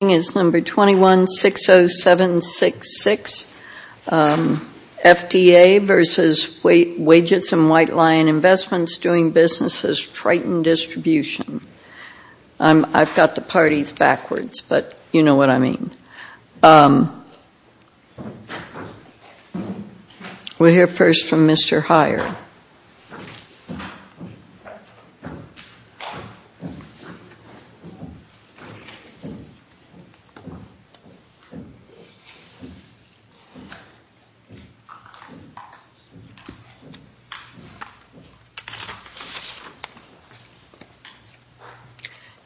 21-607-66, FDA v. Wages and White Lion Invst v. Doing Business' Triton Distribution. I've got the parties backwards, but you know what I mean. We'll hear first from Mr. Heyer.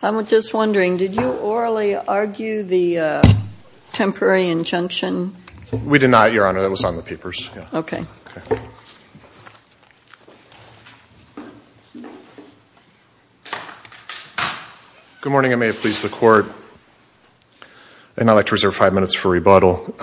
I'm just wondering, did you orally argue the temporary injunction? We did not, Your Honor. That was on the papers. Okay. Good morning, and may it please the Court. And I'd like to reserve five minutes for rebuttal.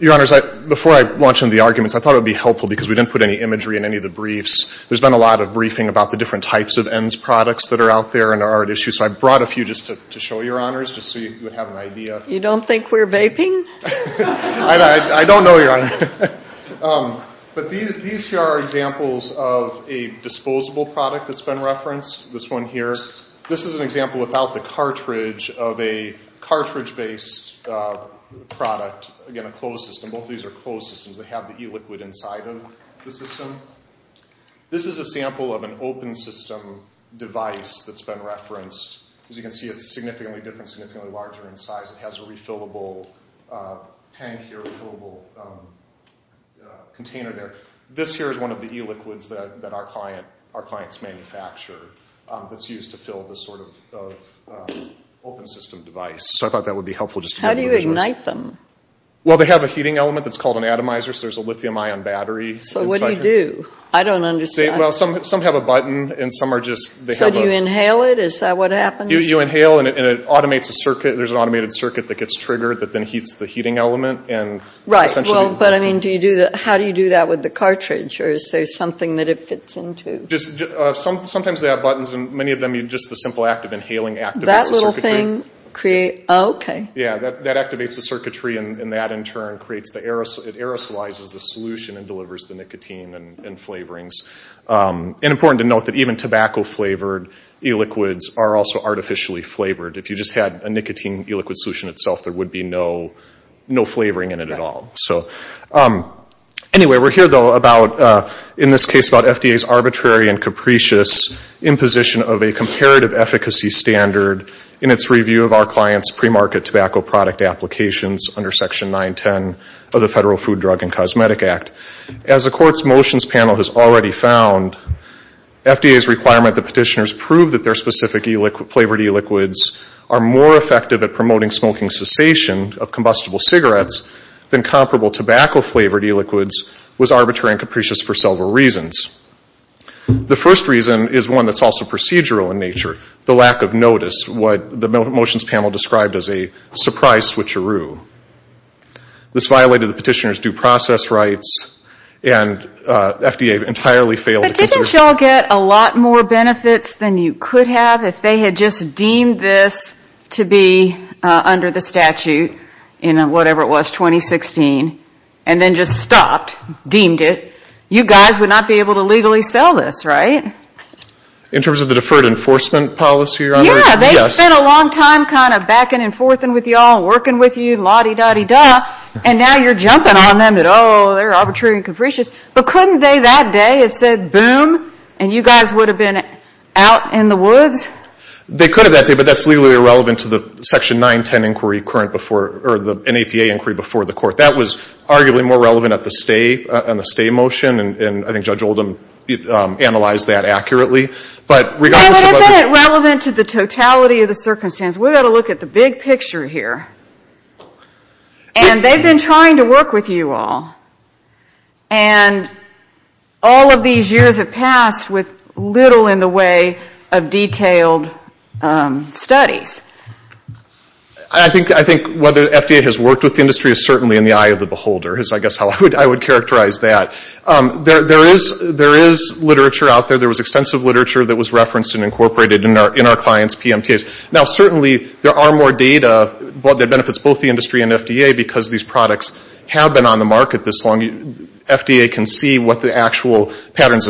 Your Honors, before I launch into the arguments, I thought it would be helpful, because we didn't put any imagery in any of the briefs. There's been a lot of briefing about the different types of ENDS products that are out there and are at issue. So I brought a few just to show Your Honors, just so you would have an idea. You don't think we're vaping? I don't know, Your Honor. But these here are examples of a disposable product that's been referenced, this one here. This is an example without the cartridge of a cartridge-based product, again, a closed system. Both of these are closed systems. They have the e-liquid inside of the system. This is a sample of an open system device that's been referenced. As you can see, it's significantly different, significantly larger in size. It has a refillable tank here, a refillable container there. This here is one of the e-liquids that our clients manufacture that's used to fill this sort of open system device. How do you ignite them? Some have a button, and some are just... So do you inhale it? Is that what happens? You inhale, and there's an automated circuit that gets triggered that then heats the heating element. How do you do that with the cartridge, or is there something that it fits into? Sometimes they have buttons, and many of them, just the simple act of inhaling activates the circuitry. That activates the circuitry, and that, in turn, creates the... It aerosolizes the solution and delivers the nicotine and flavorings. It's important to note that even tobacco-flavored e-liquids are also artificially flavored. If you just had a nicotine e-liquid solution itself, there would be no flavoring in it at all. Anyway, we're here, though, in this case about FDA's arbitrary and capricious imposition of a comparative efficacy standard in its review of our clients' pre-market tobacco product applications under Section 910 of the Federal Food, Drug, and Cosmetic Act. As the Court's motions panel has already found, FDA's requirement that petitioners prove that their specific flavored e-liquids are more effective at promoting smoking cessation of combustible cigarettes than comparable tobacco-flavored e-liquids was arbitrary and capricious for several reasons. The first reason is one that's also procedural in nature, the lack of notice, what the motions panel described as a surprise switcheroo. This violated the petitioner's due process rights, and FDA entirely failed to consider... But didn't y'all get a lot more benefits than you could have if they had just deemed this to be under the statute in whatever it was, 2016, and then just stopped, deemed it? You guys would not be able to legally sell this, right? In terms of the deferred enforcement policy, Your Honor? Yeah, they spent a long time kind of backing and forthing with y'all, working with you, la-di-da-di-da, and now you're jumping on them that, oh, they're arbitrary and capricious. But couldn't they that day have said, boom, and you guys would have been out in the woods? They could have that day, but that's legally irrelevant to the Section 910 inquiry current before, or the NAPA inquiry before the court. That was arguably more relevant at the stay, on the stay motion, and I think Judge Oldham analyzed that accurately. But isn't it relevant to the totality of the circumstance? We've got to look at the big picture here. And they've been trying to work with you all. And all of these years have passed with little in the way of detailed studies. I think whether FDA has worked with the industry is certainly in the eye of the beholder, is I guess how I would characterize that. There is literature out there, there was extensive literature that was referenced and incorporated in our clients' PMTAs. Now certainly there are more data that benefits both the industry and FDA, because these products have been on the market this long. FDA can see what the actual patterns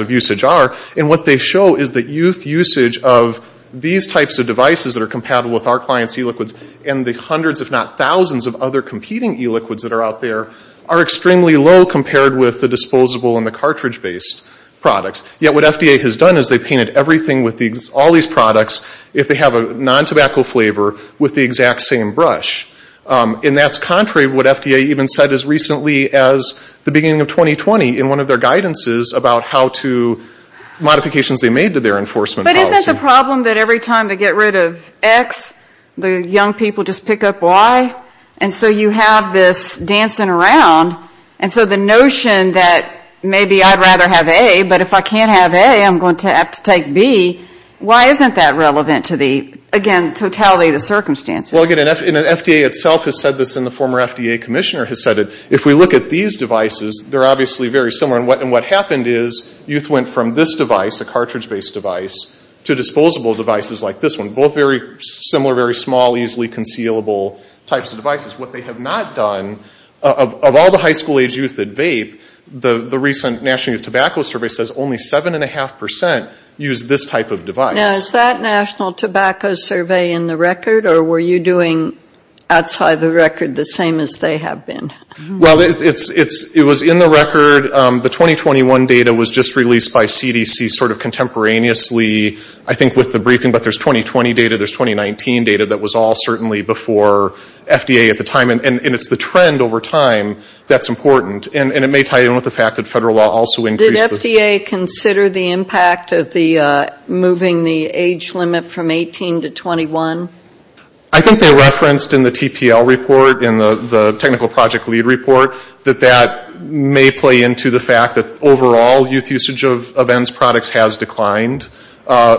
of usage are. And what they show is that youth usage of these types of devices that are compatible with our clients' e-liquids, and the hundreds if not thousands of other competing e-liquids that are out there, are extremely low compared with the disposable and the cartridge-based products. Yet what FDA has done is they've painted everything with all these products, if they have a non-tobacco flavor, with the exact same brush. And that's contrary to what FDA even said as recently as the beginning of 2020 in one of their guidances about how to, modifications they made to their enforcement policy. So is it a problem that every time they get rid of X, the young people just pick up Y? And so you have this dancing around. And so the notion that maybe I'd rather have A, but if I can't have A, I'm going to have to take B, why isn't that relevant to the, again, totality of the circumstances? Well, again, and FDA itself has said this, and the former FDA commissioner has said it, if we look at these devices, they're obviously very similar. And what happened is youth went from this device, a cartridge-based device, to disposable devices like this one. Both very similar, very small, easily concealable types of devices. What they have not done, of all the high school-age youth that vape, the recent National Youth Tobacco Survey says only 7.5% use this type of device. Now, is that National Tobacco Survey in the record, or were you doing outside the record the same as they have been? Well, it was in the record. The 2021 data was just released by CDC sort of contemporaneously, I think with the briefing, but there's 2020 data, there's 2019 data that was all certainly before FDA at the time. And it's the trend over time that's important. And it may tie in with the fact that federal law also increased the... Did FDA consider the impact of moving the age limit from 18 to 21? I think they referenced in the TPL report, in the technical project lead report, that that may play into the fact that overall youth usage of ENDS products has declined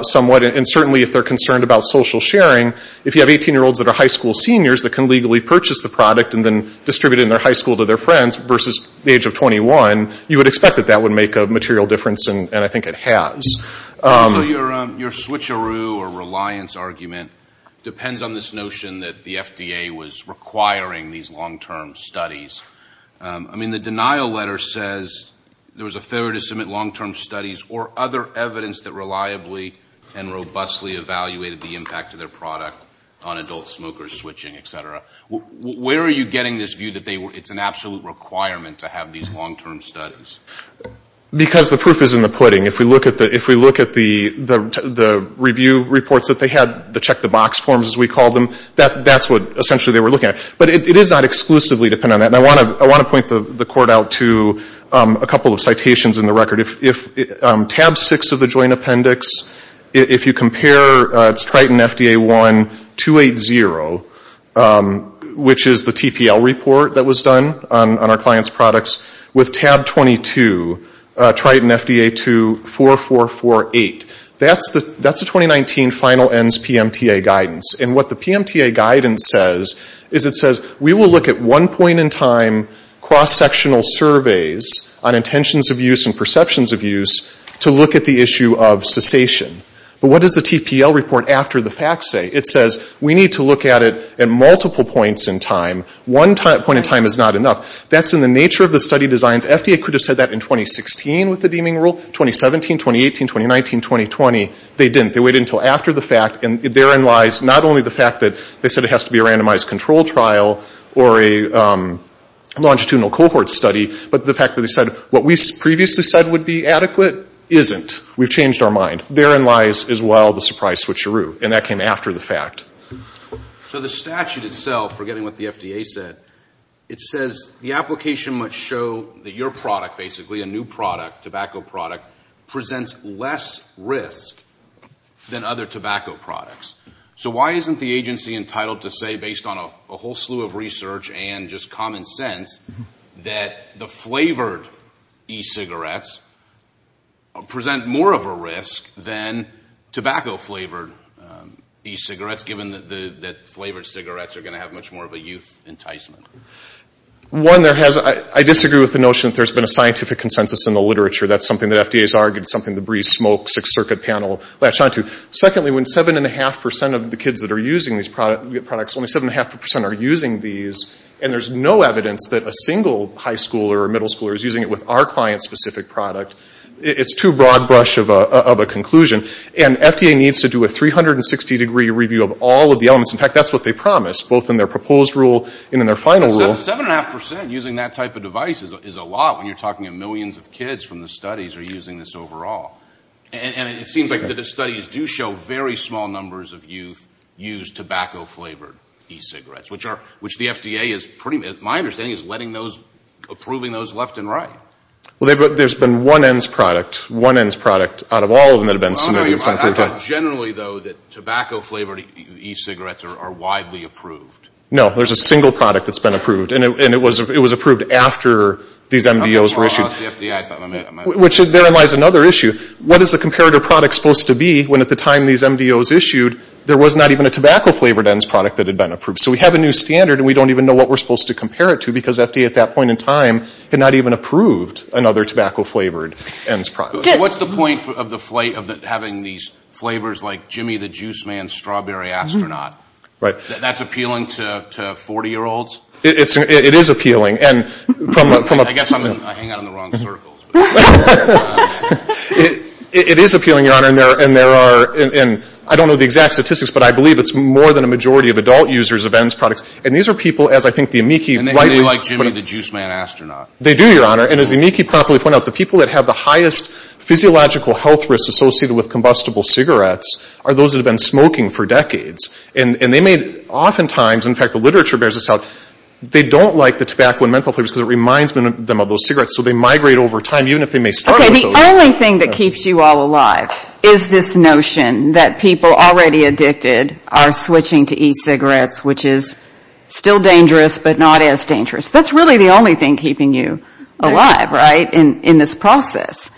somewhat. And certainly if they're concerned about social sharing, if you have 18-year-olds that are high school seniors that can legally purchase the product and then distribute it in their high school to their friends versus the age of 21, you would expect that that would make a material difference, and I think it has. So your switcheroo or reliance argument depends on this notion that the FDA was requiring these long-term studies. I mean, the denial letter says there was a failure to submit long-term studies or other evidence that reliably and robustly evaluated the impact of their product on adult smokers switching, et cetera. Where are you getting this view that it's an absolute requirement to have these long-term studies? Because the proof is in the pudding. If we look at the review reports that they had, the check-the-box forms, as we call them, that's what essentially they were looking at. But it is not exclusively dependent on that, and I want to point the court out to a couple of citations in the record. If tab 6 of the joint appendix, if you compare, it's Triton FDA 1-280, which is the TPL report that was done on our clients' products, with tab 22, Triton FDA 2-4448. That's the 2019 final ENDS PMTA guidance. And what the PMTA guidance says is it says we will look at one point in time cross-sectional surveys on intentions of use and perceptions of use to look at the issue of cessation. But what does the TPL report after the facts say? It says we need to look at it at multiple points in time. One point in time is not enough. That's in the nature of the study designs. FDA could have said that in 2016 with the deeming rule. 2017, 2018, 2019, 2020, they didn't. They waited until after the fact, and therein lies not only the fact that they said it has to be a randomized control trial or a longitudinal cohort study, but the fact that they said what we previously said would be adequate isn't. We've changed our mind. Therein lies as well the surprise switcheroo, and that came after the fact. So the statute itself, forgetting what the FDA said, it says the application must show that your product, basically, a new product, a tobacco product, presents less risk than other tobacco products. So why isn't the agency entitled to say, based on a whole slew of research and just common sense, that the flavored e-cigarettes present more of a risk than tobacco-flavored e-cigarettes, given that flavored cigarettes are going to have much more of a youth enticement? One, I disagree with the notion that there's been a scientific consensus in the literature. That's something that FDA's argued, something the Breeze Smoke Sixth Circuit Panel latched onto. Secondly, when 7.5% of the kids that are using these products, only 7.5% are using these, and there's no evidence that a single high schooler or middle schooler is using it with our client-specific product, it's too broad brush of a conclusion. And FDA needs to do a 360-degree review of all of the elements. In fact, that's what they promised, both in their proposed rule and in their final rule. 7.5% using that type of device is a lot when you're talking of millions of kids from the studies are using this overall. And it seems like the studies do show very small numbers of youth use tobacco-flavored e-cigarettes, which the FDA is pretty, my understanding, is approving those left and right. Well, there's been one ENDS product, one ENDS product out of all of them that have been submitted. Generally, though, that tobacco-flavored e-cigarettes are widely approved. No, there's a single product that's been approved, and it was approved after these MDOs were issued. I thought more or less the FDA. Which therein lies another issue. What is the comparative product supposed to be when at the time these MDOs issued, there was not even a tobacco-flavored ENDS product that had been approved? So we have a new standard, and we don't even know what we're supposed to compare it to because FDA at that point in time had not even approved another tobacco-flavored ENDS product. So what's the point of the flight of having these flavors like Jimmy the Juice Man's Strawberry Astronaut? That's appealing to 40-year-olds? It is appealing. I guess I hang out in the wrong circles. It is appealing, Your Honor. I don't know the exact statistics, but I believe it's more than a majority of adult users of ENDS products. And these are people, as I think the amici rightly put it. And they do like Jimmy the Juice Man Astronaut. They do, Your Honor. And as the amici properly point out, the people that have the highest physiological health risks associated with combustible cigarettes are those that have been smoking for decades. And they may oftentimes, in fact the literature bears this out, they don't like the tobacco and menthol flavors because it reminds them of those cigarettes. So they migrate over time, even if they may start with those. Okay, the only thing that keeps you all alive is this notion that people already addicted are switching to e-cigarettes, which is still dangerous, but not as dangerous. That's really the only thing keeping you alive, right, in this process.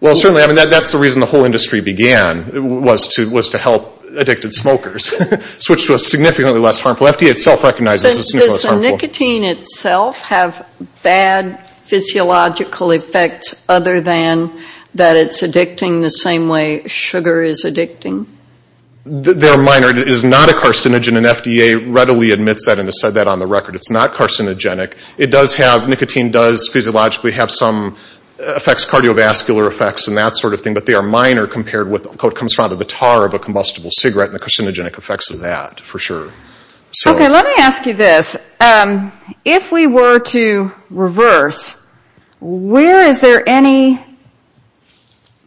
Well, certainly, I mean, that's the reason the whole industry began, was to help addicted smokers switch to a significantly less harmful. FDA itself recognizes it's significantly less harmful. Does the nicotine itself have bad physiological effects other than that it's addicting the same way sugar is addicting? They're minor. It is not a carcinogen, and FDA readily admits that and has said that on the record. It's not carcinogenic. It does have, nicotine does physiologically have some effects, cardiovascular effects and that sort of thing, but they are minor compared with what comes from the tar of a combustible cigarette and the carcinogenic effects of that, for sure. Okay, let me ask you this. If we were to reverse, where is there any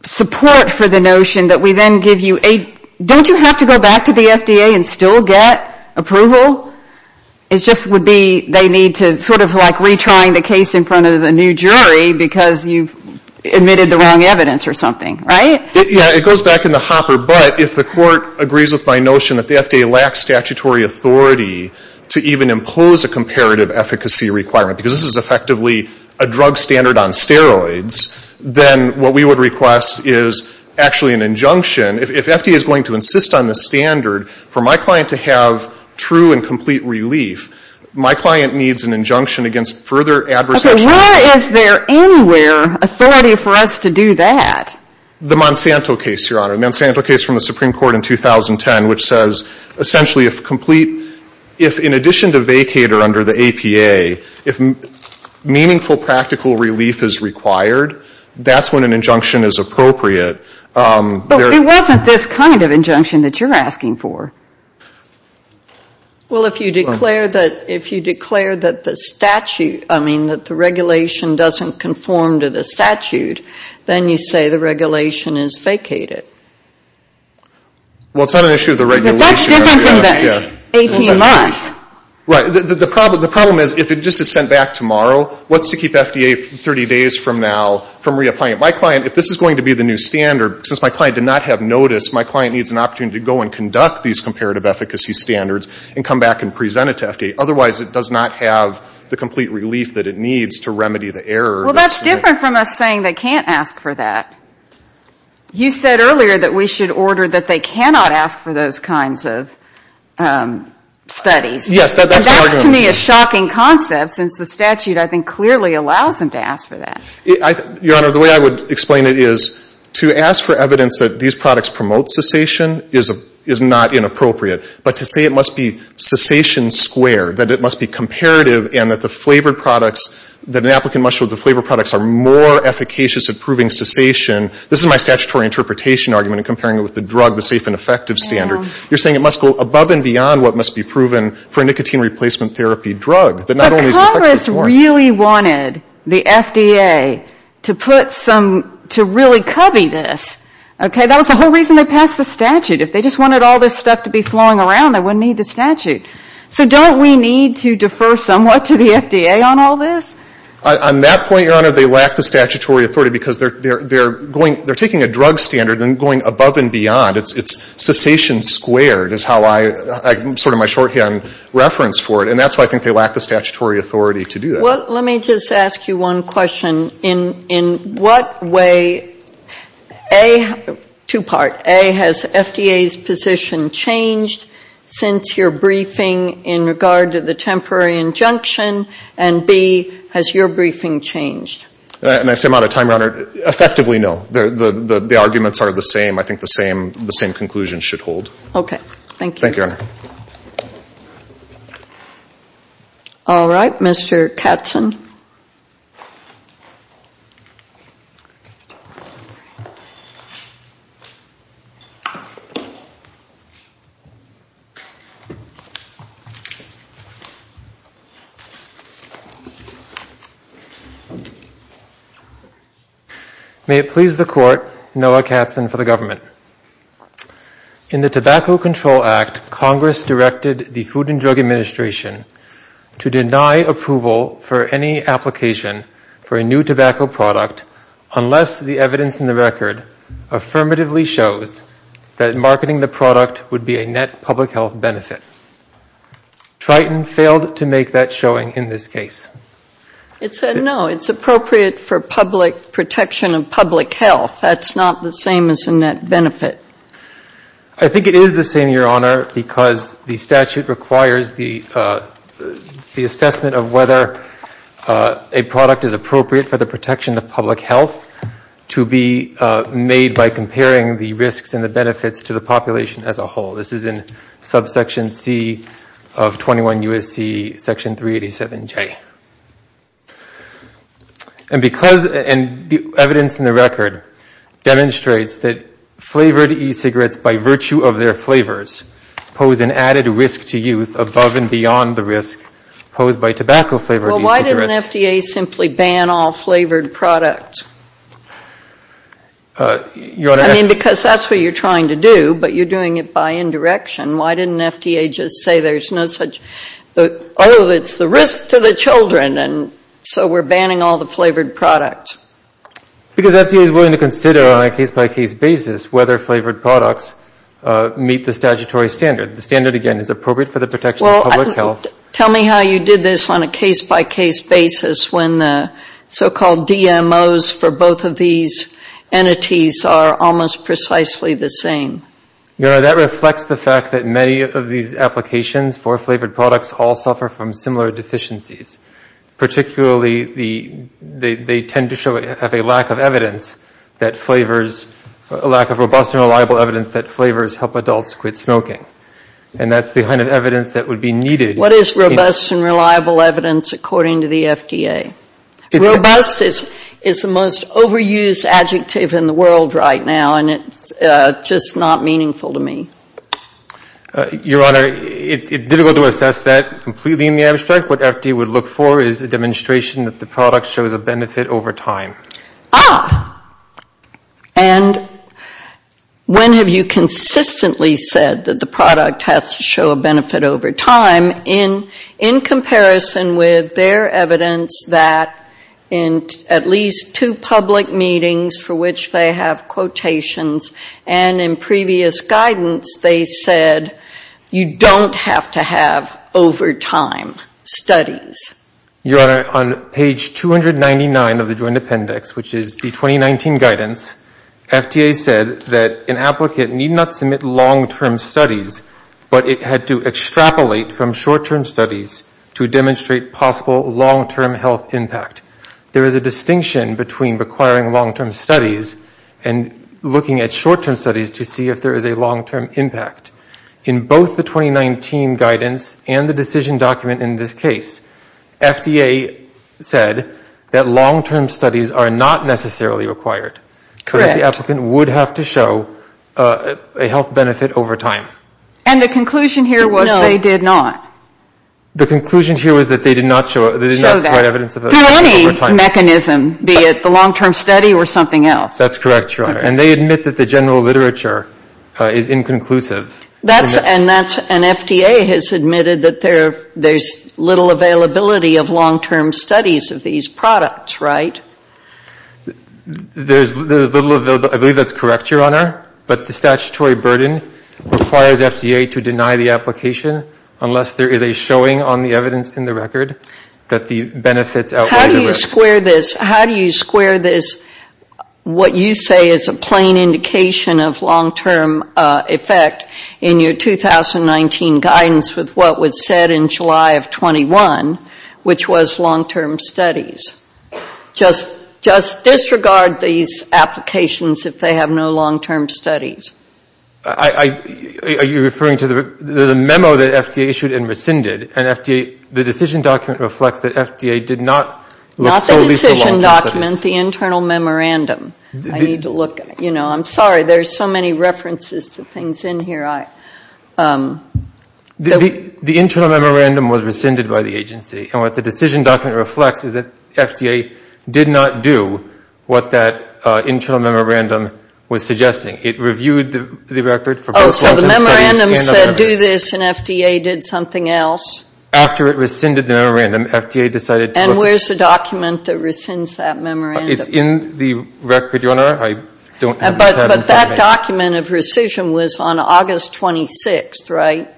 support for the notion that we then give you a, don't you have to go back to the FDA and still get approval? It just would be they need to sort of like retrying the case in front of a new jury because you've admitted the wrong evidence or something, right? Yeah, it goes back in the hopper, but if the court agrees with my notion that the FDA lacks statutory authority to even impose a comparative efficacy requirement, because this is effectively a drug standard on steroids, then what we would request is actually an injunction. If FDA is going to insist on the standard for my client to have true and complete relief, my client needs an injunction against further adverse action. Okay, where is there anywhere authority for us to do that? The Monsanto case, Your Honor. The Monsanto case from the Supreme Court in 2010, which says essentially if complete, if in addition to vacate or under the APA, if meaningful practical relief is required, that's when an injunction is appropriate. But it wasn't this kind of injunction that you're asking for. Well, if you declare that the statute, I mean that the regulation doesn't conform to the statute, then you say the regulation is vacated. Well, it's not an issue of the regulation. But that's different from the 18 months. Right. The problem is if it just is sent back tomorrow, what's to keep FDA 30 days from now from reapplying it? My client, if this is going to be the new standard, since my client did not have notice, my client needs an opportunity to go and conduct these comparative efficacy standards and come back and present it to FDA. Otherwise, it does not have the complete relief that it needs to remedy the error. Well, that's different from us saying they can't ask for that. You said earlier that we should order that they cannot ask for those kinds of studies. Yes. That's to me a shocking concept since the statute, I think, clearly allows them to ask for that. Your Honor, the way I would explain it is to ask for evidence that these products promote cessation is not inappropriate. But to say it must be cessation squared, that it must be comparative, and that the flavored products, that an applicant must show the flavored products are more efficacious at proving cessation, this is my statutory interpretation argument in comparing it with the drug, the safe and effective standard. You're saying it must go above and beyond what must be proven for a nicotine replacement therapy drug. But Congress really wanted the FDA to put some, to really cubby this. That was the whole reason they passed the statute. If they just wanted all this stuff to be flowing around, they wouldn't need the statute. So don't we need to defer somewhat to the FDA on all this? On that point, Your Honor, they lack the statutory authority because they're taking a drug standard and going above and beyond. It's cessation squared is sort of my shorthand reference for it. And that's why I think they lack the statutory authority to do that. Well, let me just ask you one question. In what way, two-part, A, has FDA's position changed since your briefing in regard to the temporary injunction? And B, has your briefing changed? And I say them out of time, Your Honor. Effectively, no. The arguments are the same. I think the same conclusions should hold. Okay. Thank you. Thank you, Your Honor. All right. Mr. Katzen. May it please the Court, Noah Katzen for the government. In the Tobacco Control Act, Congress directed the Food and Drug Administration to deny approval for any application for a new tobacco product unless the evidence in the record affirmatively shows that marketing the product would be a net public health benefit. Triton failed to make that showing in this case. It said no. It's appropriate for public protection of public health. That's not the same as a net benefit. I think it is the same, Your Honor, because the statute requires the assessment of whether a product is appropriate for the protection of public health to be made by comparing the risks and the benefits to the population as a whole. This is in subsection C of 21 U.S.C. section 387J. And evidence in the record demonstrates that flavored e-cigarettes, by virtue of their flavors, pose an added risk to youth above and beyond the risk posed by tobacco-flavored e-cigarettes. Well, why didn't FDA simply ban all flavored products? I mean, because that's what you're trying to do, but you're doing it by indirection. Why didn't FDA just say, oh, it's the risk to the children, and so we're banning all the flavored products? Because FDA is willing to consider on a case-by-case basis whether flavored products meet the statutory standard. The standard, again, is appropriate for the protection of public health. Tell me how you did this on a case-by-case basis when the so-called DMOs for both of these entities are almost precisely the same. You know, that reflects the fact that many of these applications for flavored products all suffer from similar deficiencies. Particularly, they tend to have a lack of evidence that flavors, a lack of robust and reliable evidence that flavors help adults quit smoking. And that's the kind of evidence that would be needed. What is robust and reliable evidence according to the FDA? Robust is the most overused adjective in the world right now, and it's just not meaningful to me. Your Honor, it's difficult to assess that completely in the abstract. What FDA would look for is a demonstration that the product shows a benefit over time. Ah. And when have you consistently said that the product has to show a benefit over time in comparison with their evidence that in at least two public meetings for which they have quotations and in previous guidance, they said you don't have to have over time studies? Your Honor, on page 299 of the Joint Appendix, which is the 2019 guidance, FDA said that an applicant need not submit long-term studies, but it had to extrapolate from short-term studies to demonstrate possible long-term health impact. There is a distinction between requiring long-term studies and looking at short-term studies to see if there is a long-term impact. In both the 2019 guidance and the decision document in this case, FDA said that long-term studies are not necessarily required. Correct. Because the applicant would have to show a health benefit over time. And the conclusion here was they did not. The conclusion here was that they did not show that. Through any mechanism, be it the long-term study or something else. That's correct, Your Honor. And they admit that the general literature is inconclusive. And FDA has admitted that there's little availability of long-term studies of these products, right? There's little availability. I believe that's correct, Your Honor. But the statutory burden requires FDA to deny the application unless there is a showing on the evidence in the record that the benefits outweigh the risks. How do you square this? How do you square this, what you say is a plain indication of long-term effect, in your 2019 guidance with what was said in July of 21, which was long-term studies? Just disregard these applications if they have no long-term studies. Are you referring to the memo that FDA issued and rescinded? And the decision document reflects that FDA did not look solely for long-term studies. Not the decision document, the internal memorandum. I need to look. I'm sorry, there's so many references to things in here. The internal memorandum was rescinded by the agency. And what the decision document reflects is that FDA did not do what that internal memorandum was suggesting. It reviewed the record for both internal studies and the memorandum. Oh, so the memorandum said do this and FDA did something else? After it rescinded the memorandum, FDA decided to look. And where's the document that rescinds that memorandum? It's in the record, Your Honor. I don't have it. But that document of rescission was on August 26th, right?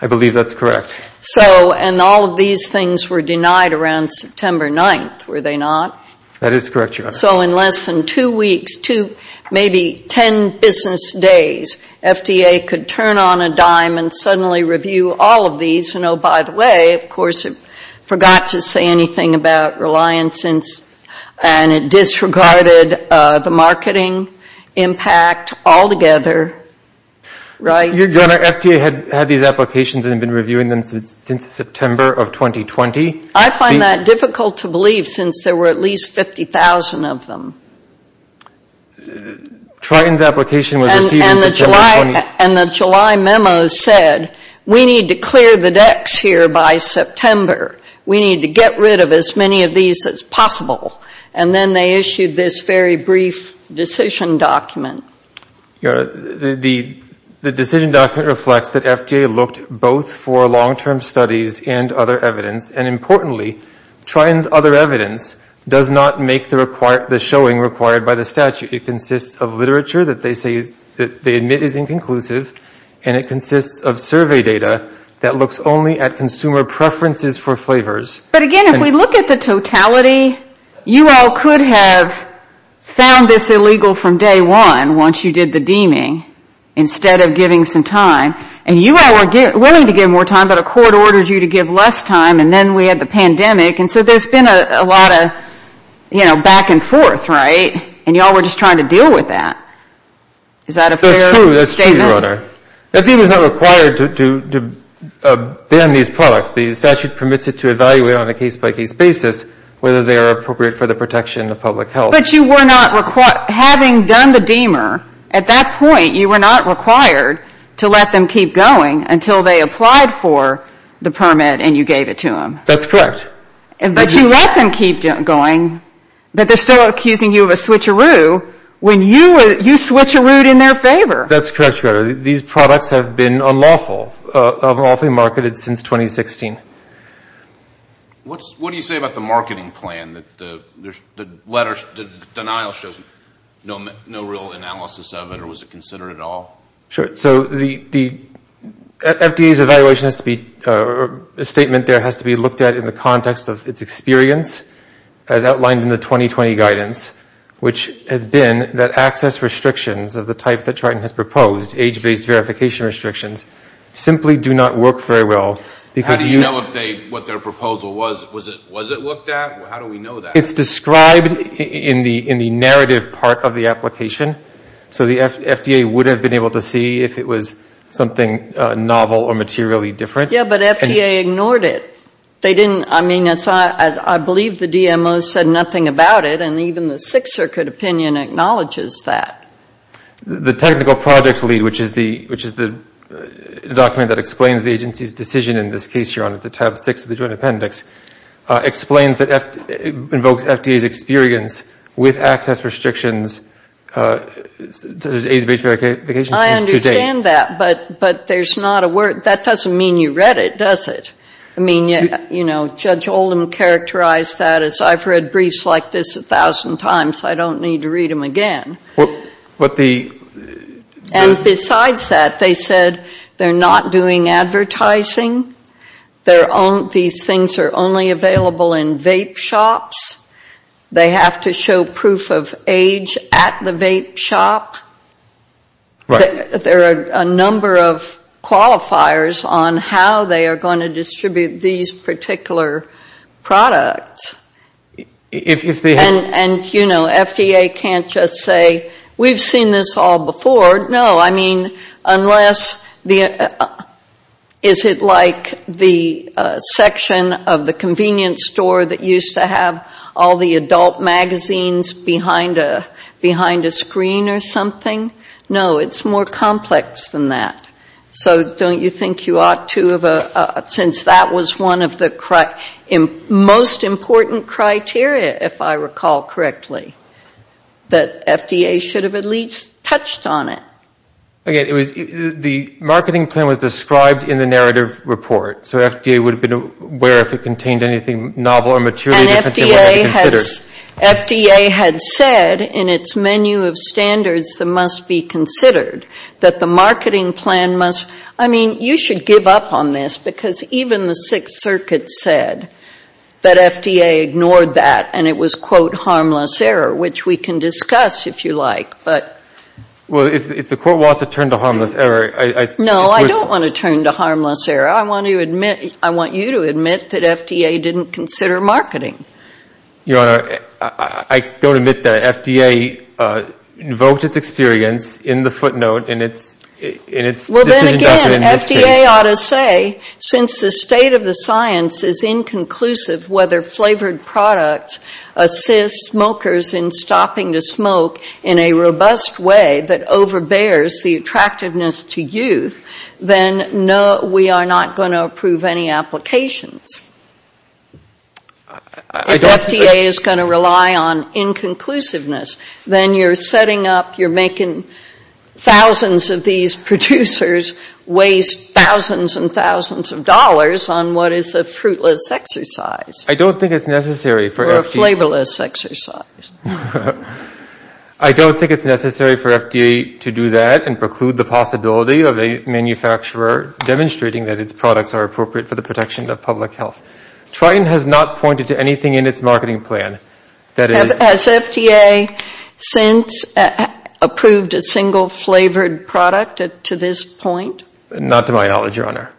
I believe that's correct. So, and all of these things were denied around September 9th, were they not? That is correct, Your Honor. So in less than two weeks, two, maybe ten business days, FDA could turn on a dime and suddenly review all of these. And, oh, by the way, of course it forgot to say anything about reliance and it disregarded the marketing impact altogether, right? Your Honor, FDA had these applications and had been reviewing them since September of 2020. I find that difficult to believe since there were at least 50,000 of them. Triton's application was received in September of 2020. And the July memo said we need to clear the decks here by September. We need to get rid of as many of these as possible. And then they issued this very brief decision document. Your Honor, the decision document reflects that FDA looked both for long-term studies and other evidence. And importantly, Triton's other evidence does not make the showing required by the statute. It consists of literature that they say is, that they admit is inconclusive. And it consists of survey data that looks only at consumer preferences for flavors. But, again, if we look at the totality, you all could have found this illegal from day one once you did the deeming instead of giving some time. And you all were willing to give more time, but a court ordered you to give less time. And then we had the pandemic. And so there's been a lot of, you know, back and forth, right? And you all were just trying to deal with that. Is that a fair statement? That's true. That's true, Your Honor. FDA was not required to ban these products. The statute permits it to evaluate on a case-by-case basis whether they are appropriate for the protection of public health. But you were not, having done the deemer, at that point you were not required to let them keep going until they applied for the permit and you gave it to them. That's correct. But you let them keep going, but they're still accusing you of a switcheroo when you switcherooed in their favor. That's correct, Your Honor. These products have been unlawful, unlawfully marketed since 2016. What do you say about the marketing plan? The denial shows no real analysis of it, or was it considered at all? Sure. So the FDA's evaluation has to be, a statement there has to be looked at in the context of its experience, as outlined in the 2020 guidance, which has been that access restrictions of the type that Triton has proposed, age-based verification restrictions, simply do not work very well. How do you know what their proposal was? Was it looked at? How do we know that? It's described in the narrative part of the application. So the FDA would have been able to see if it was something novel or materially different. Yeah, but FDA ignored it. They didn't, I mean, I believe the DMO said nothing about it, and even the Sixth Circuit opinion acknowledges that. The technical project lead, which is the document that explains the agency's decision in this case, Your Honor, to tab six of the Joint Appendix, explains that, invokes FDA's experience with access restrictions, age-based verification. I understand that, but there's not a word, that doesn't mean you read it, does it? I mean, you know, Judge Oldham characterized that as, I've read briefs like this a thousand times. I don't need to read them again. And besides that, they said they're not doing advertising. These things are only available in vape shops. They have to show proof of age at the vape shop. There are a number of qualifiers on how they are going to distribute these particular products. And, you know, FDA can't just say, we've seen this all before. No, I mean, unless, is it like the section of the convenience store that used to have all the adult magazines behind a screen or something? No, it's more complex than that. So don't you think you ought to have, since that was one of the most important criteria, if I recall correctly, that FDA should have at least touched on it? The marketing plan was described in the narrative report, so FDA would have been aware if it contained anything novel or mature. And FDA had said in its menu of standards that must be considered, that the marketing plan must, I mean, you should give up on this because even the Sixth Circuit said that FDA ignored that and it was, quote, harmless error, which we can discuss if you like, but. Well, if the court wants to turn to harmless error. No, I don't want to turn to harmless error. I want you to admit that FDA didn't consider marketing. Your Honor, I don't admit that. FDA invoked its experience in the footnote in its decision document. Well, then again, FDA ought to say, since the state of the science is inconclusive whether flavored products assist smokers in stopping the smoke in a robust way that overbears the attractiveness to youth, then no, we are not going to approve any applications. If FDA is going to rely on inconclusiveness, then you're setting up, you're making thousands of these producers waste thousands and thousands of dollars on what is a fruitless exercise. I don't think it's necessary for FDA. I don't think it's necessary for FDA to do that and preclude the possibility of a manufacturer demonstrating that its products are appropriate for the protection of public health. Triton has not pointed to anything in its marketing plan. Has FDA since approved a single flavored product to this point? Not to my knowledge, Your Honor.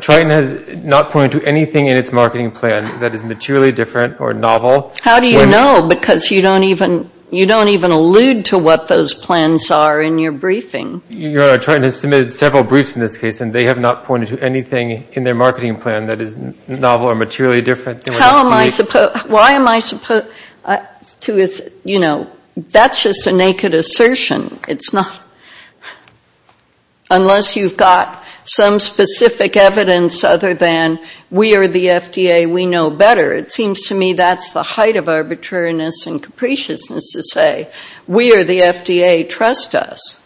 Triton has not pointed to anything in its marketing plan that is materially different or novel How do you know? Because you don't even allude to what those plans are in your briefing. Your Honor, Triton has submitted several briefs in this case, and they have not pointed to anything in their marketing plan that is novel or materially different. How am I supposed, why am I supposed to, you know, that's just a naked assertion. It's not, unless you've got some specific evidence other than we are the FDA, we know better. It seems to me that's the height of arbitrariness and capriciousness to say we are the FDA, trust us.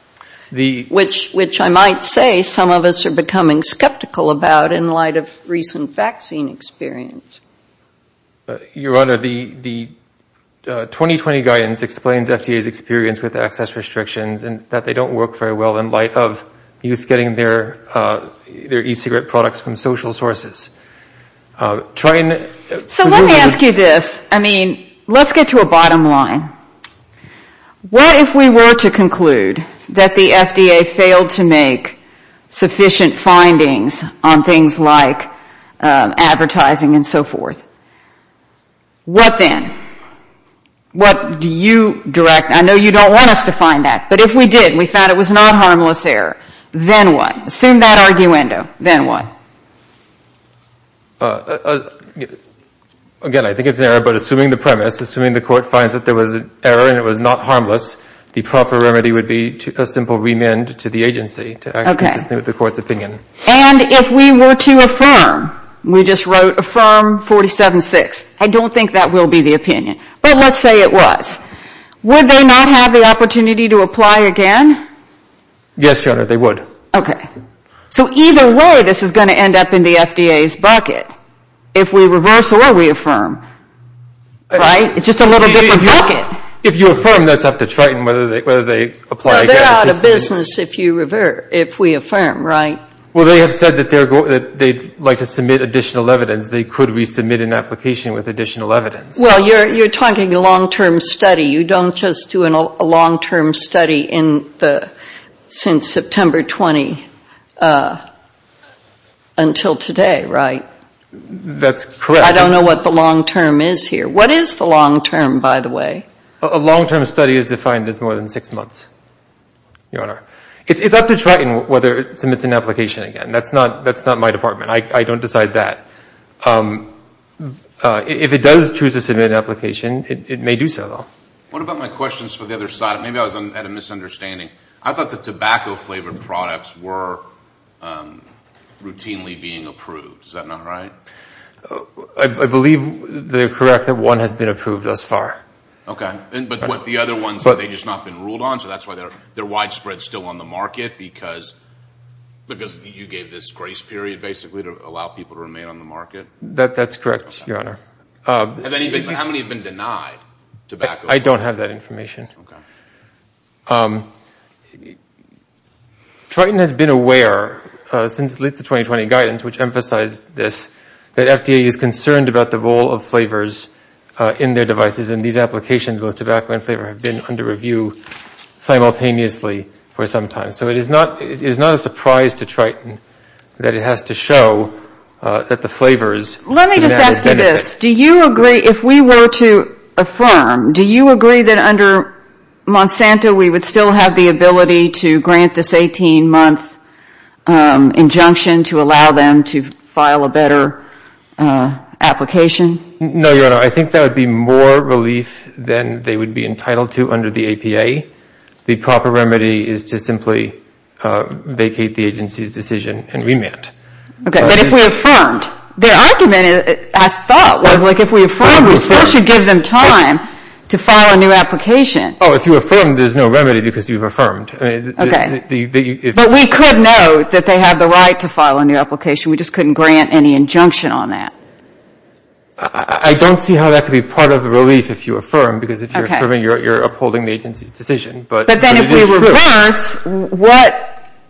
Which I might say some of us are becoming skeptical about in light of recent vaccine experience. Your Honor, the 2020 guidance explains FDA's experience with access restrictions and that they don't work very well in light of youth getting their e-cigarette products from social sources. So let me ask you this. I mean, let's get to a bottom line. What if we were to conclude that the FDA failed to make sufficient findings on things like advertising and so forth? What then? What do you direct? I know you don't want us to find that, but if we did and we found it was not harmless error, then what? Again, I think it's an error, but assuming the premise, assuming the court finds that there was an error and it was not harmless, the proper remedy would be a simple remand to the agency to act consistently with the court's opinion. And if we were to affirm, we just wrote affirm 47-6, I don't think that will be the opinion. But let's say it was. Would they not have the opportunity to apply again? Yes, Your Honor, they would. Okay. So either way, this is going to end up in the FDA's bucket. If we reverse or we affirm, right? It's just a little different bucket. If you affirm, that's up to Triton whether they apply again. They're out of business if we affirm, right? Well, they have said that they'd like to submit additional evidence. They could resubmit an application with additional evidence. Well, you're talking a long-term study. You don't just do a long-term study since September 20 until today, right? That's correct. I don't know what the long-term is here. What is the long-term, by the way? A long-term study is defined as more than six months, Your Honor. It's up to Triton whether it submits an application again. That's not my department. I don't decide that. If it does choose to submit an application, it may do so. What about my questions for the other side? Maybe I was at a misunderstanding. I thought the tobacco-flavored products were routinely being approved. Is that not right? I believe they're correct that one has been approved thus far. Okay. But what the other ones, have they just not been ruled on? So that's why they're widespread still on the market because you gave this grace period, basically, to allow people to remain on the market? That's correct, Your Honor. How many have been denied tobacco? I don't have that information. Triton has been aware since the late 2020 guidance, which emphasized this, that FDA is concerned about the role of flavors in their devices, and these applications, both tobacco and flavor, have been under review simultaneously for some time. So it is not a surprise to Triton that it has to show that the flavors have had a benefit. Let me just ask you this. Do you agree, if we were to affirm, do you agree that under Monsanto we would still have the ability to grant this 18-month injunction to allow them to file a better application? No, Your Honor. I think that would be more relief than they would be entitled to under the APA. The proper remedy is to simply vacate the agency's decision and remand. Okay. But if we affirmed? Their argument, I thought, was, like, if we affirmed, we still should give them time to file a new application. Oh, if you affirm, there's no remedy because you've affirmed. Okay. But we could know that they have the right to file a new application. We just couldn't grant any injunction on that. I don't see how that could be part of the relief if you affirm, because if you affirm, you're upholding the agency's decision. But then if we reverse,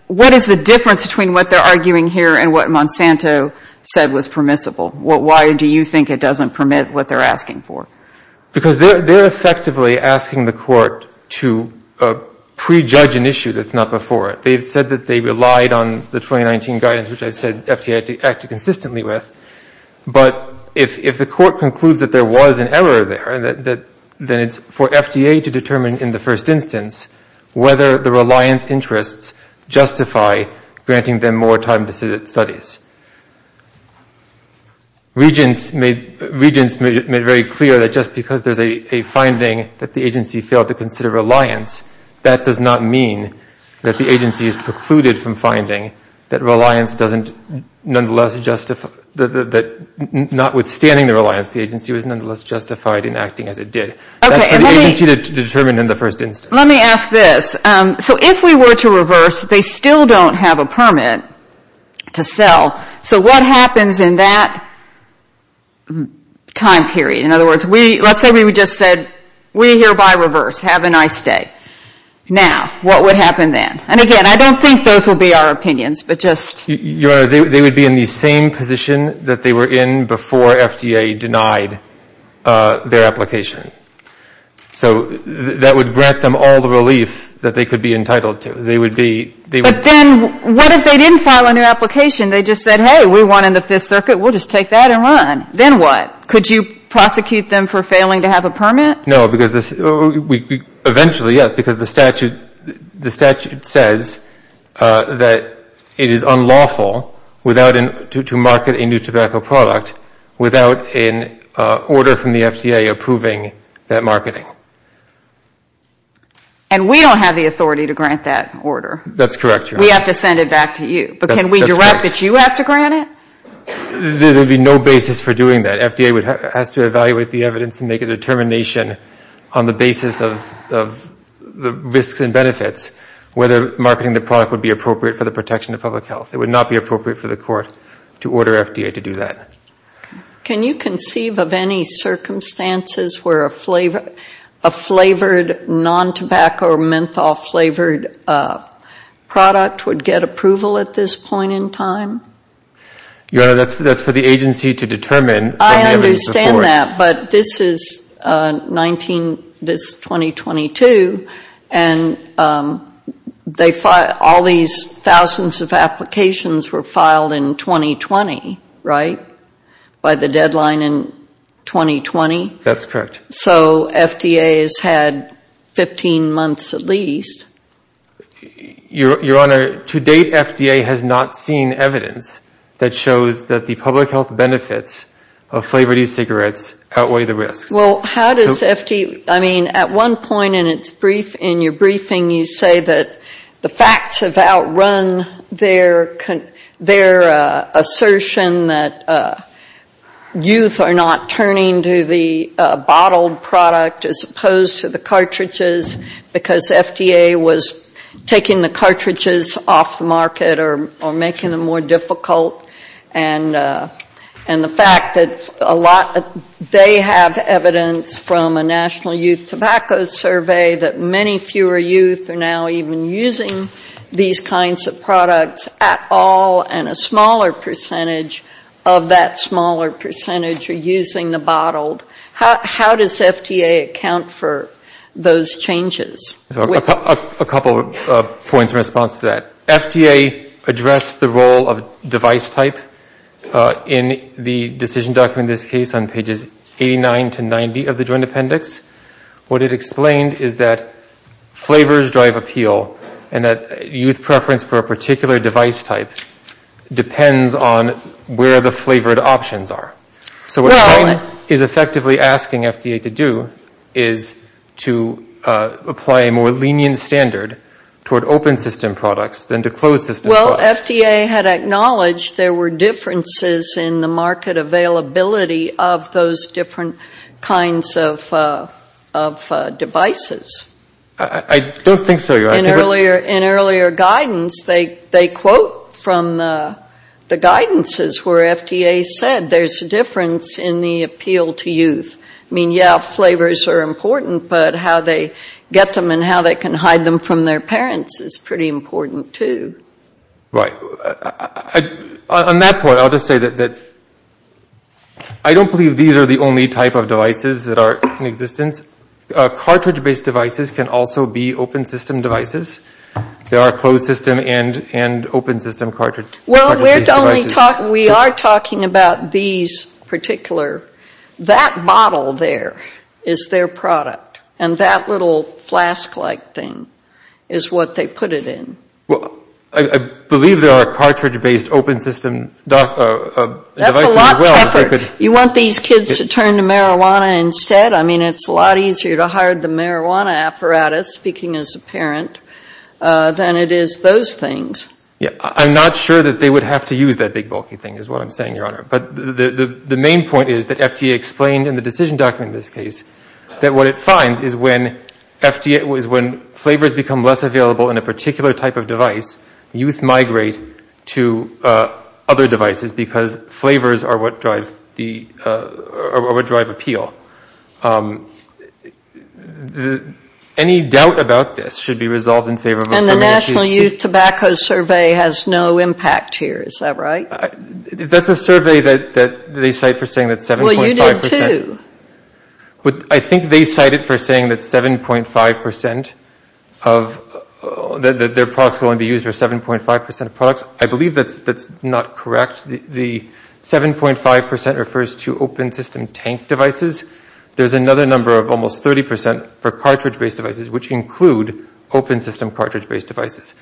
what is the difference between what they're arguing here and what Monsanto said was permissible? Why do you think it doesn't permit what they're asking for? Because they're effectively asking the court to prejudge an issue that's not before it. They've said that they relied on the 2019 guidance, which I've said FTA acted consistently with. But if the court concludes that there was an error there, then it's for FDA to determine in the first instance whether the reliance interests justify granting them more time to sit at studies. Regents made very clear that just because there's a finding that the agency failed to consider reliance, that does not mean that the agency is precluded from finding that notwithstanding the reliance, the agency was nonetheless justified in acting as it did. That's for the agency to determine in the first instance. Let me ask this. So if we were to reverse, they still don't have a permit to sell. So what happens in that time period? In other words, let's say we just said, we hereby reverse. Have a nice day. Now, what would happen then? And again, I don't think those would be our opinions, but just. Your Honor, they would be in the same position that they were in before FDA denied their application. So that would grant them all the relief that they could be entitled to. They would be. But then what if they didn't file a new application? They just said, hey, we won in the Fifth Circuit. We'll just take that and run. Then what? Could you prosecute them for failing to have a permit? No, because eventually, yes, because the statute says that it is unlawful to market a new tobacco product without an order from the FDA approving that marketing. And we don't have the authority to grant that order. That's correct, Your Honor. We have to send it back to you. But can we direct that you have to grant it? There would be no basis for doing that. FDA has to evaluate the evidence and make a determination on the basis of the risks and benefits whether marketing the product would be appropriate for the protection of public health. It would not be appropriate for the court to order FDA to do that. Can you conceive of any circumstances where a flavored non-tobacco or menthol-flavored product would get approval at this point in time? Your Honor, that's for the agency to determine. I understand that. But this is 2022, and all these thousands of applications were filed in 2020, right, by the deadline in 2020? That's correct. So FDA has had 15 months at least. Your Honor, to date FDA has not seen evidence that shows that the public health benefits of flavored e-cigarettes outweigh the risks. Well, how does FDA – I mean, at one point in your briefing you say that the facts have outrun their assertion that taking the cartridges off the market or making them more difficult and the fact that a lot – they have evidence from a National Youth Tobacco Survey that many fewer youth are now even using these kinds of products at all and a smaller percentage of that smaller percentage are using the bottled. How does FDA account for those changes? A couple of points in response to that. FDA addressed the role of device type in the decision document in this case on pages 89 to 90 of the Joint Appendix. What it explained is that flavors drive appeal and that youth preference for a particular device type depends on where the flavored options are. So what it's effectively asking FDA to do is to apply a more lenient standard toward open system products than to closed system products. Well, FDA had acknowledged there were differences in the market availability of those different kinds of devices. I don't think so, Your Honor. In earlier guidance, they quote from the guidances where FDA said there's a difference in the appeal to youth. I mean, yeah, flavors are important, but how they get them and how they can hide them from their parents is pretty important too. Right. On that point, I'll just say that I don't believe these are the only type of devices that are in existence. Cartridge-based devices can also be open system devices. There are closed system and open system cartridge-based devices. Well, we are talking about these particular. That bottle there is their product, and that little flask-like thing is what they put it in. Well, I believe there are cartridge-based open system devices as well. That's a lot tougher. You want these kids to turn to marijuana instead? I mean, it's a lot easier to hire the marijuana apparatus, speaking as a parent, than it is those things. Yeah. I'm not sure that they would have to use that big bulky thing is what I'm saying, Your Honor. But the main point is that FDA explained in the decision document in this case that what it finds is when flavors become less available in a particular type of device, youth migrate to other devices because flavors are what drive appeal. Any doubt about this should be resolved in favor of a criminal case. And the National Youth Tobacco Survey has no impact here. Is that right? That's a survey that they cite for saying that 7.5 percent. Well, you did too. I think they cite it for saying that 7.5 percent of their products will only be used for 7.5 percent of products. I believe that's not correct. The 7.5 percent refers to open system tank devices. There's another number of almost 30 percent for cartridge-based devices, which include open system cartridge-based devices.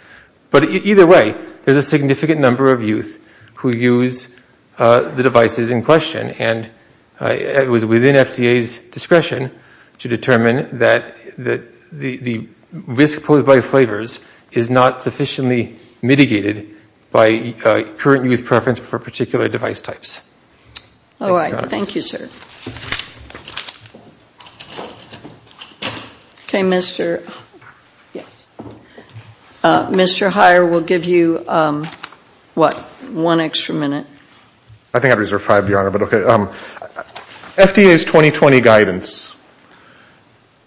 But either way, there's a significant number of youth who use the devices in question, and it was within FDA's discretion to determine that the risk posed by flavors is not sufficiently mitigated by current youth preference for particular device types. All right. Thank you, sir. Okay, Mr. Hire, we'll give you, what, one extra minute. I think I've reserved five, Your Honor, but okay. FDA's 2020 guidance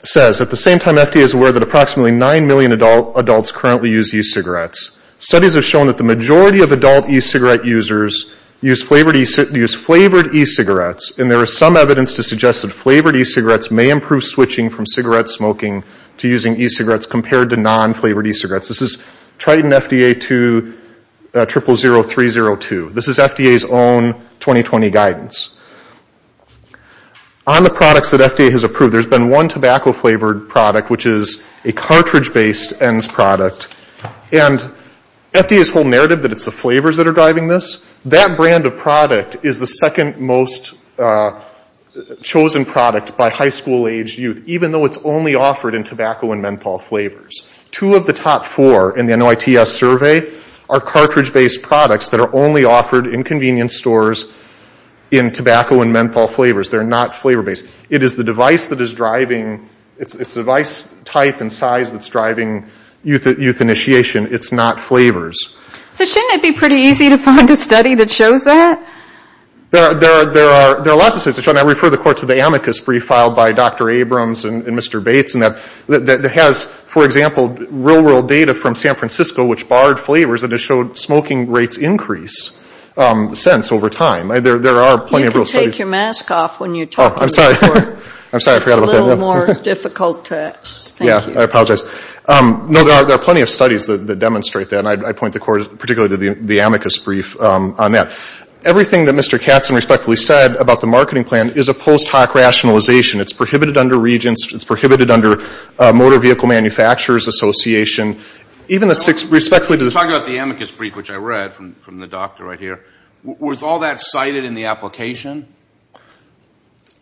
says, at the same time FDA is aware that approximately 9 million adults currently use e-cigarettes, studies have shown that the majority of adult e-cigarette users use flavored e-cigarettes, and there is some evidence to suggest that flavored e-cigarettes may improve switching from cigarette smoking to using e-cigarettes compared to non-flavored e-cigarettes. This is Triton FDA 230302. This is FDA's own 2020 guidance. On the products that FDA has approved, there's been one tobacco-flavored product, which is a cartridge-based ENDS product, and FDA's whole narrative that it's the flavors that are driving this, that brand of product is the second most chosen product by high school-aged youth, even though it's only offered in tobacco and menthol flavors. Two of the top four in the NOITS survey are cartridge-based products that are only offered in convenience stores in tobacco and menthol flavors. They're not flavor-based. It is the device type and size that's driving youth initiation. It's not flavors. So shouldn't it be pretty easy to find a study that shows that? There are lots of studies. I refer the Court to the amicus brief filed by Dr. Abrams and Mr. Bates, that has, for example, real-world data from San Francisco, which barred flavors and has showed smoking rates increase since over time. There are plenty of real studies. You can take your mask off when you're talking to the Court. I'm sorry. It's a little more difficult text. Thank you. I apologize. No, there are plenty of studies that demonstrate that, and I point particularly to the amicus brief on that. Everything that Mr. Katzen respectfully said about the marketing plan is a post hoc rationalization. It's prohibited under Regents. It's prohibited under Motor Vehicle Manufacturers Association. We're talking about the amicus brief, which I read from the doctor right here. Was all that cited in the application?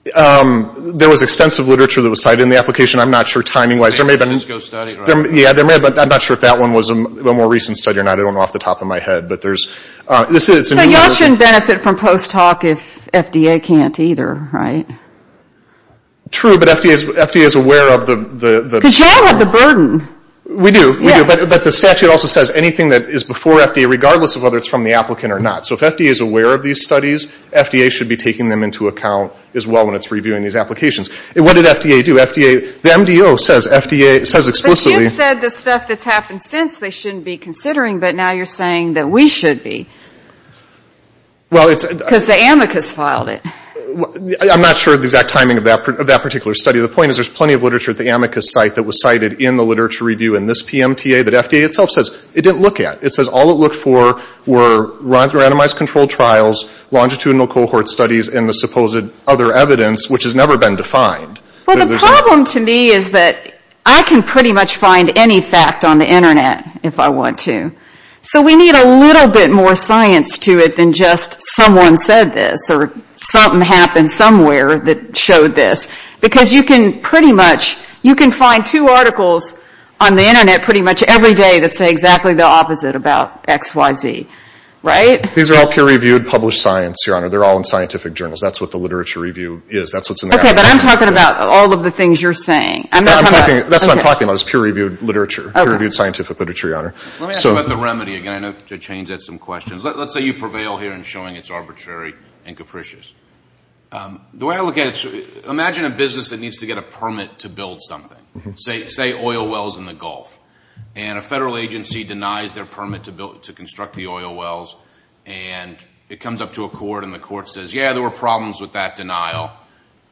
There was extensive literature that was cited in the application. I'm not sure timing-wise. San Francisco study, right? Yeah, I'm not sure if that one was a more recent study or not. I don't know off the top of my head. So y'all shouldn't benefit from post hoc if FDA can't either, right? True, but FDA is aware of the – Because y'all have the burden. We do. But the statute also says anything that is before FDA, regardless of whether it's from the applicant or not. So if FDA is aware of these studies, FDA should be taking them into account as well when it's reviewing these applications. What did FDA do? The MDO says FDA – it says explicitly – But you said the stuff that's happened since they shouldn't be considering, but now you're saying that we should be. Because the amicus filed it. I'm not sure of the exact timing of that particular study. The point is there's plenty of literature at the amicus site that was cited in the literature review in this PMTA that FDA itself says it didn't look at. It says all it looked for were randomized controlled trials, longitudinal cohort studies, and the supposed other evidence, which has never been defined. Well, the problem to me is that I can pretty much find any fact on the Internet if I want to. So we need a little bit more science to it than just someone said this or something happened somewhere that showed this. Because you can pretty much – you can find two articles on the Internet pretty much every day that say exactly the opposite about X, Y, Z. These are all peer-reviewed published science, Your Honor. They're all in scientific journals. That's what the literature review is. Okay, but I'm talking about all of the things you're saying. That's what I'm talking about. It's peer-reviewed literature, peer-reviewed scientific literature, Your Honor. Let me ask about the remedy again. I know to change that's some questions. Let's say you prevail here in showing it's arbitrary and capricious. The way I look at it, imagine a business that needs to get a permit to build something. Say oil wells in the Gulf. And a federal agency denies their permit to construct the oil wells. And it comes up to a court, and the court says, yeah, there were problems with that denial.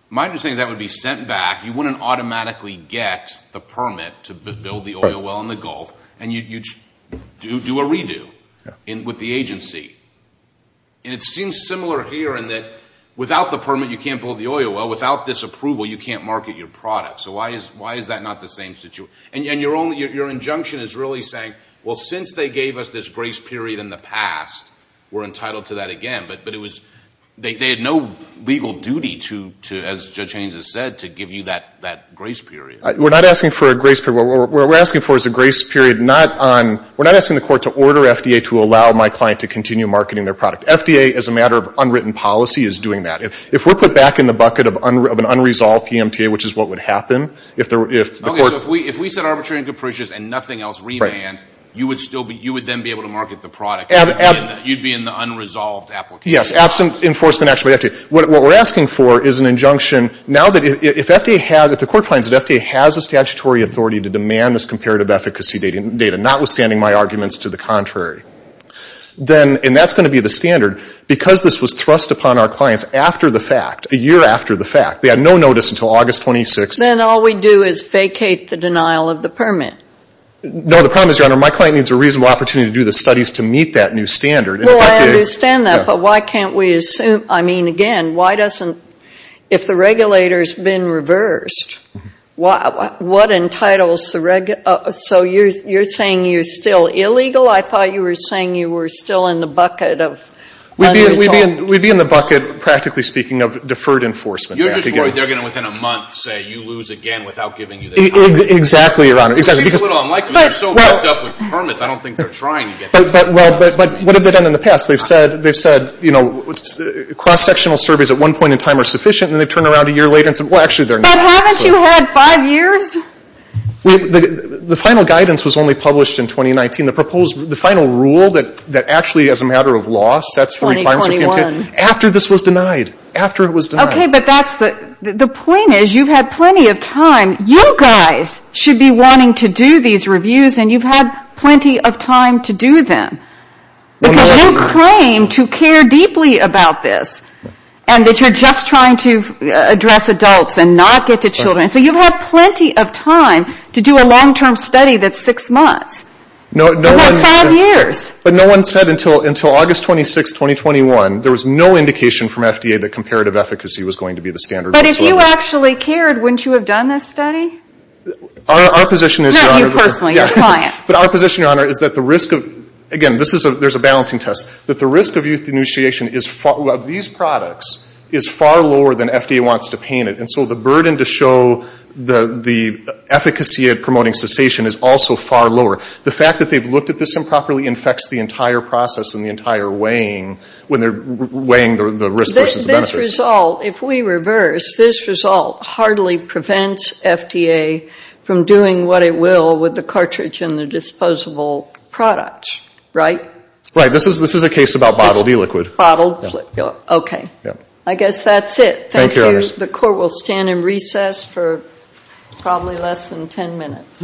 My understanding is that would be sent back. You wouldn't automatically get the permit to build the oil well in the Gulf, and you'd do a redo with the agency. And it seems similar here in that without the permit, you can't build the oil well. Without this approval, you can't market your product. So why is that not the same situation? And your injunction is really saying, well, since they gave us this grace period in the past, we're entitled to that again. But they had no legal duty to, as Judge Haynes has said, to give you that grace period. We're not asking for a grace period. What we're asking for is a grace period not on – we're not asking the court to order FDA to allow my client to continue marketing their product. FDA, as a matter of unwritten policy, is doing that. If we're put back in the bucket of an unresolved PMTA, which is what would happen, if the court – Okay, so if we said arbitrary and capricious and nothing else, remand, you would then be able to market the product. You'd be in the unresolved application process. Yes, absent enforcement action by FDA. What we're asking for is an injunction. Now that if FDA has – if the court finds that FDA has a statutory authority to demand this comparative efficacy data, notwithstanding my arguments to the contrary, then – and that's going to be the standard. Because this was thrust upon our clients after the fact, a year after the fact, they had no notice until August 26th. Then all we do is vacate the denial of the permit. No, the problem is, Your Honor, my client needs a reasonable opportunity to do the studies to meet that new standard. Well, I understand that, but why can't we assume – I mean, again, why doesn't – if the regulator's been reversed, what entitles the – so you're saying you're still illegal? I thought you were saying you were still in the bucket of unresolved. We'd be in the bucket, practically speaking, of deferred enforcement. You're just worried they're going to, within a month, say, Exactly, Your Honor. It seems a little unlikely. They're so backed up with permits. I don't think they're trying again. But what have they done in the past? They've said, you know, cross-sectional surveys at one point in time are sufficient, and then they turn around a year later and say, well, actually, they're not. But haven't you had five years? The final guidance was only published in 2019. The proposed – the final rule that actually, as a matter of law, sets for requirements are going to – 2021. After this was denied. After it was denied. Okay, but that's the – the point is, you've had plenty of time. You guys should be wanting to do these reviews, and you've had plenty of time to do them. Because you claim to care deeply about this, and that you're just trying to address adults and not get to children. So you've had plenty of time to do a long-term study that's six months. No one – And not five years. But no one said until – until August 26, 2021, there was no indication from FDA that comparative efficacy was going to be the standard whatsoever. But if you actually cared, wouldn't you have done this study? Our position is, Your Honor – Not you personally, your client. But our position, Your Honor, is that the risk of – again, this is a – there's a balancing test. That the risk of youth denunciation is – of these products is far lower than FDA wants to paint it. And so the burden to show the efficacy at promoting cessation is also far lower. The fact that they've looked at this improperly infects the entire process and the entire weighing when they're weighing the risk versus the benefits. So as a result, if we reverse, this result hardly prevents FDA from doing what it will with the cartridge and the disposable product, right? Right. This is – this is a case about bottled e-liquid. Bottled e-liquid. Yeah. Okay. Yeah. I guess that's it. Thank you. Thank you, Your Honor. The court will stand in recess for probably less than 10 minutes. All rise.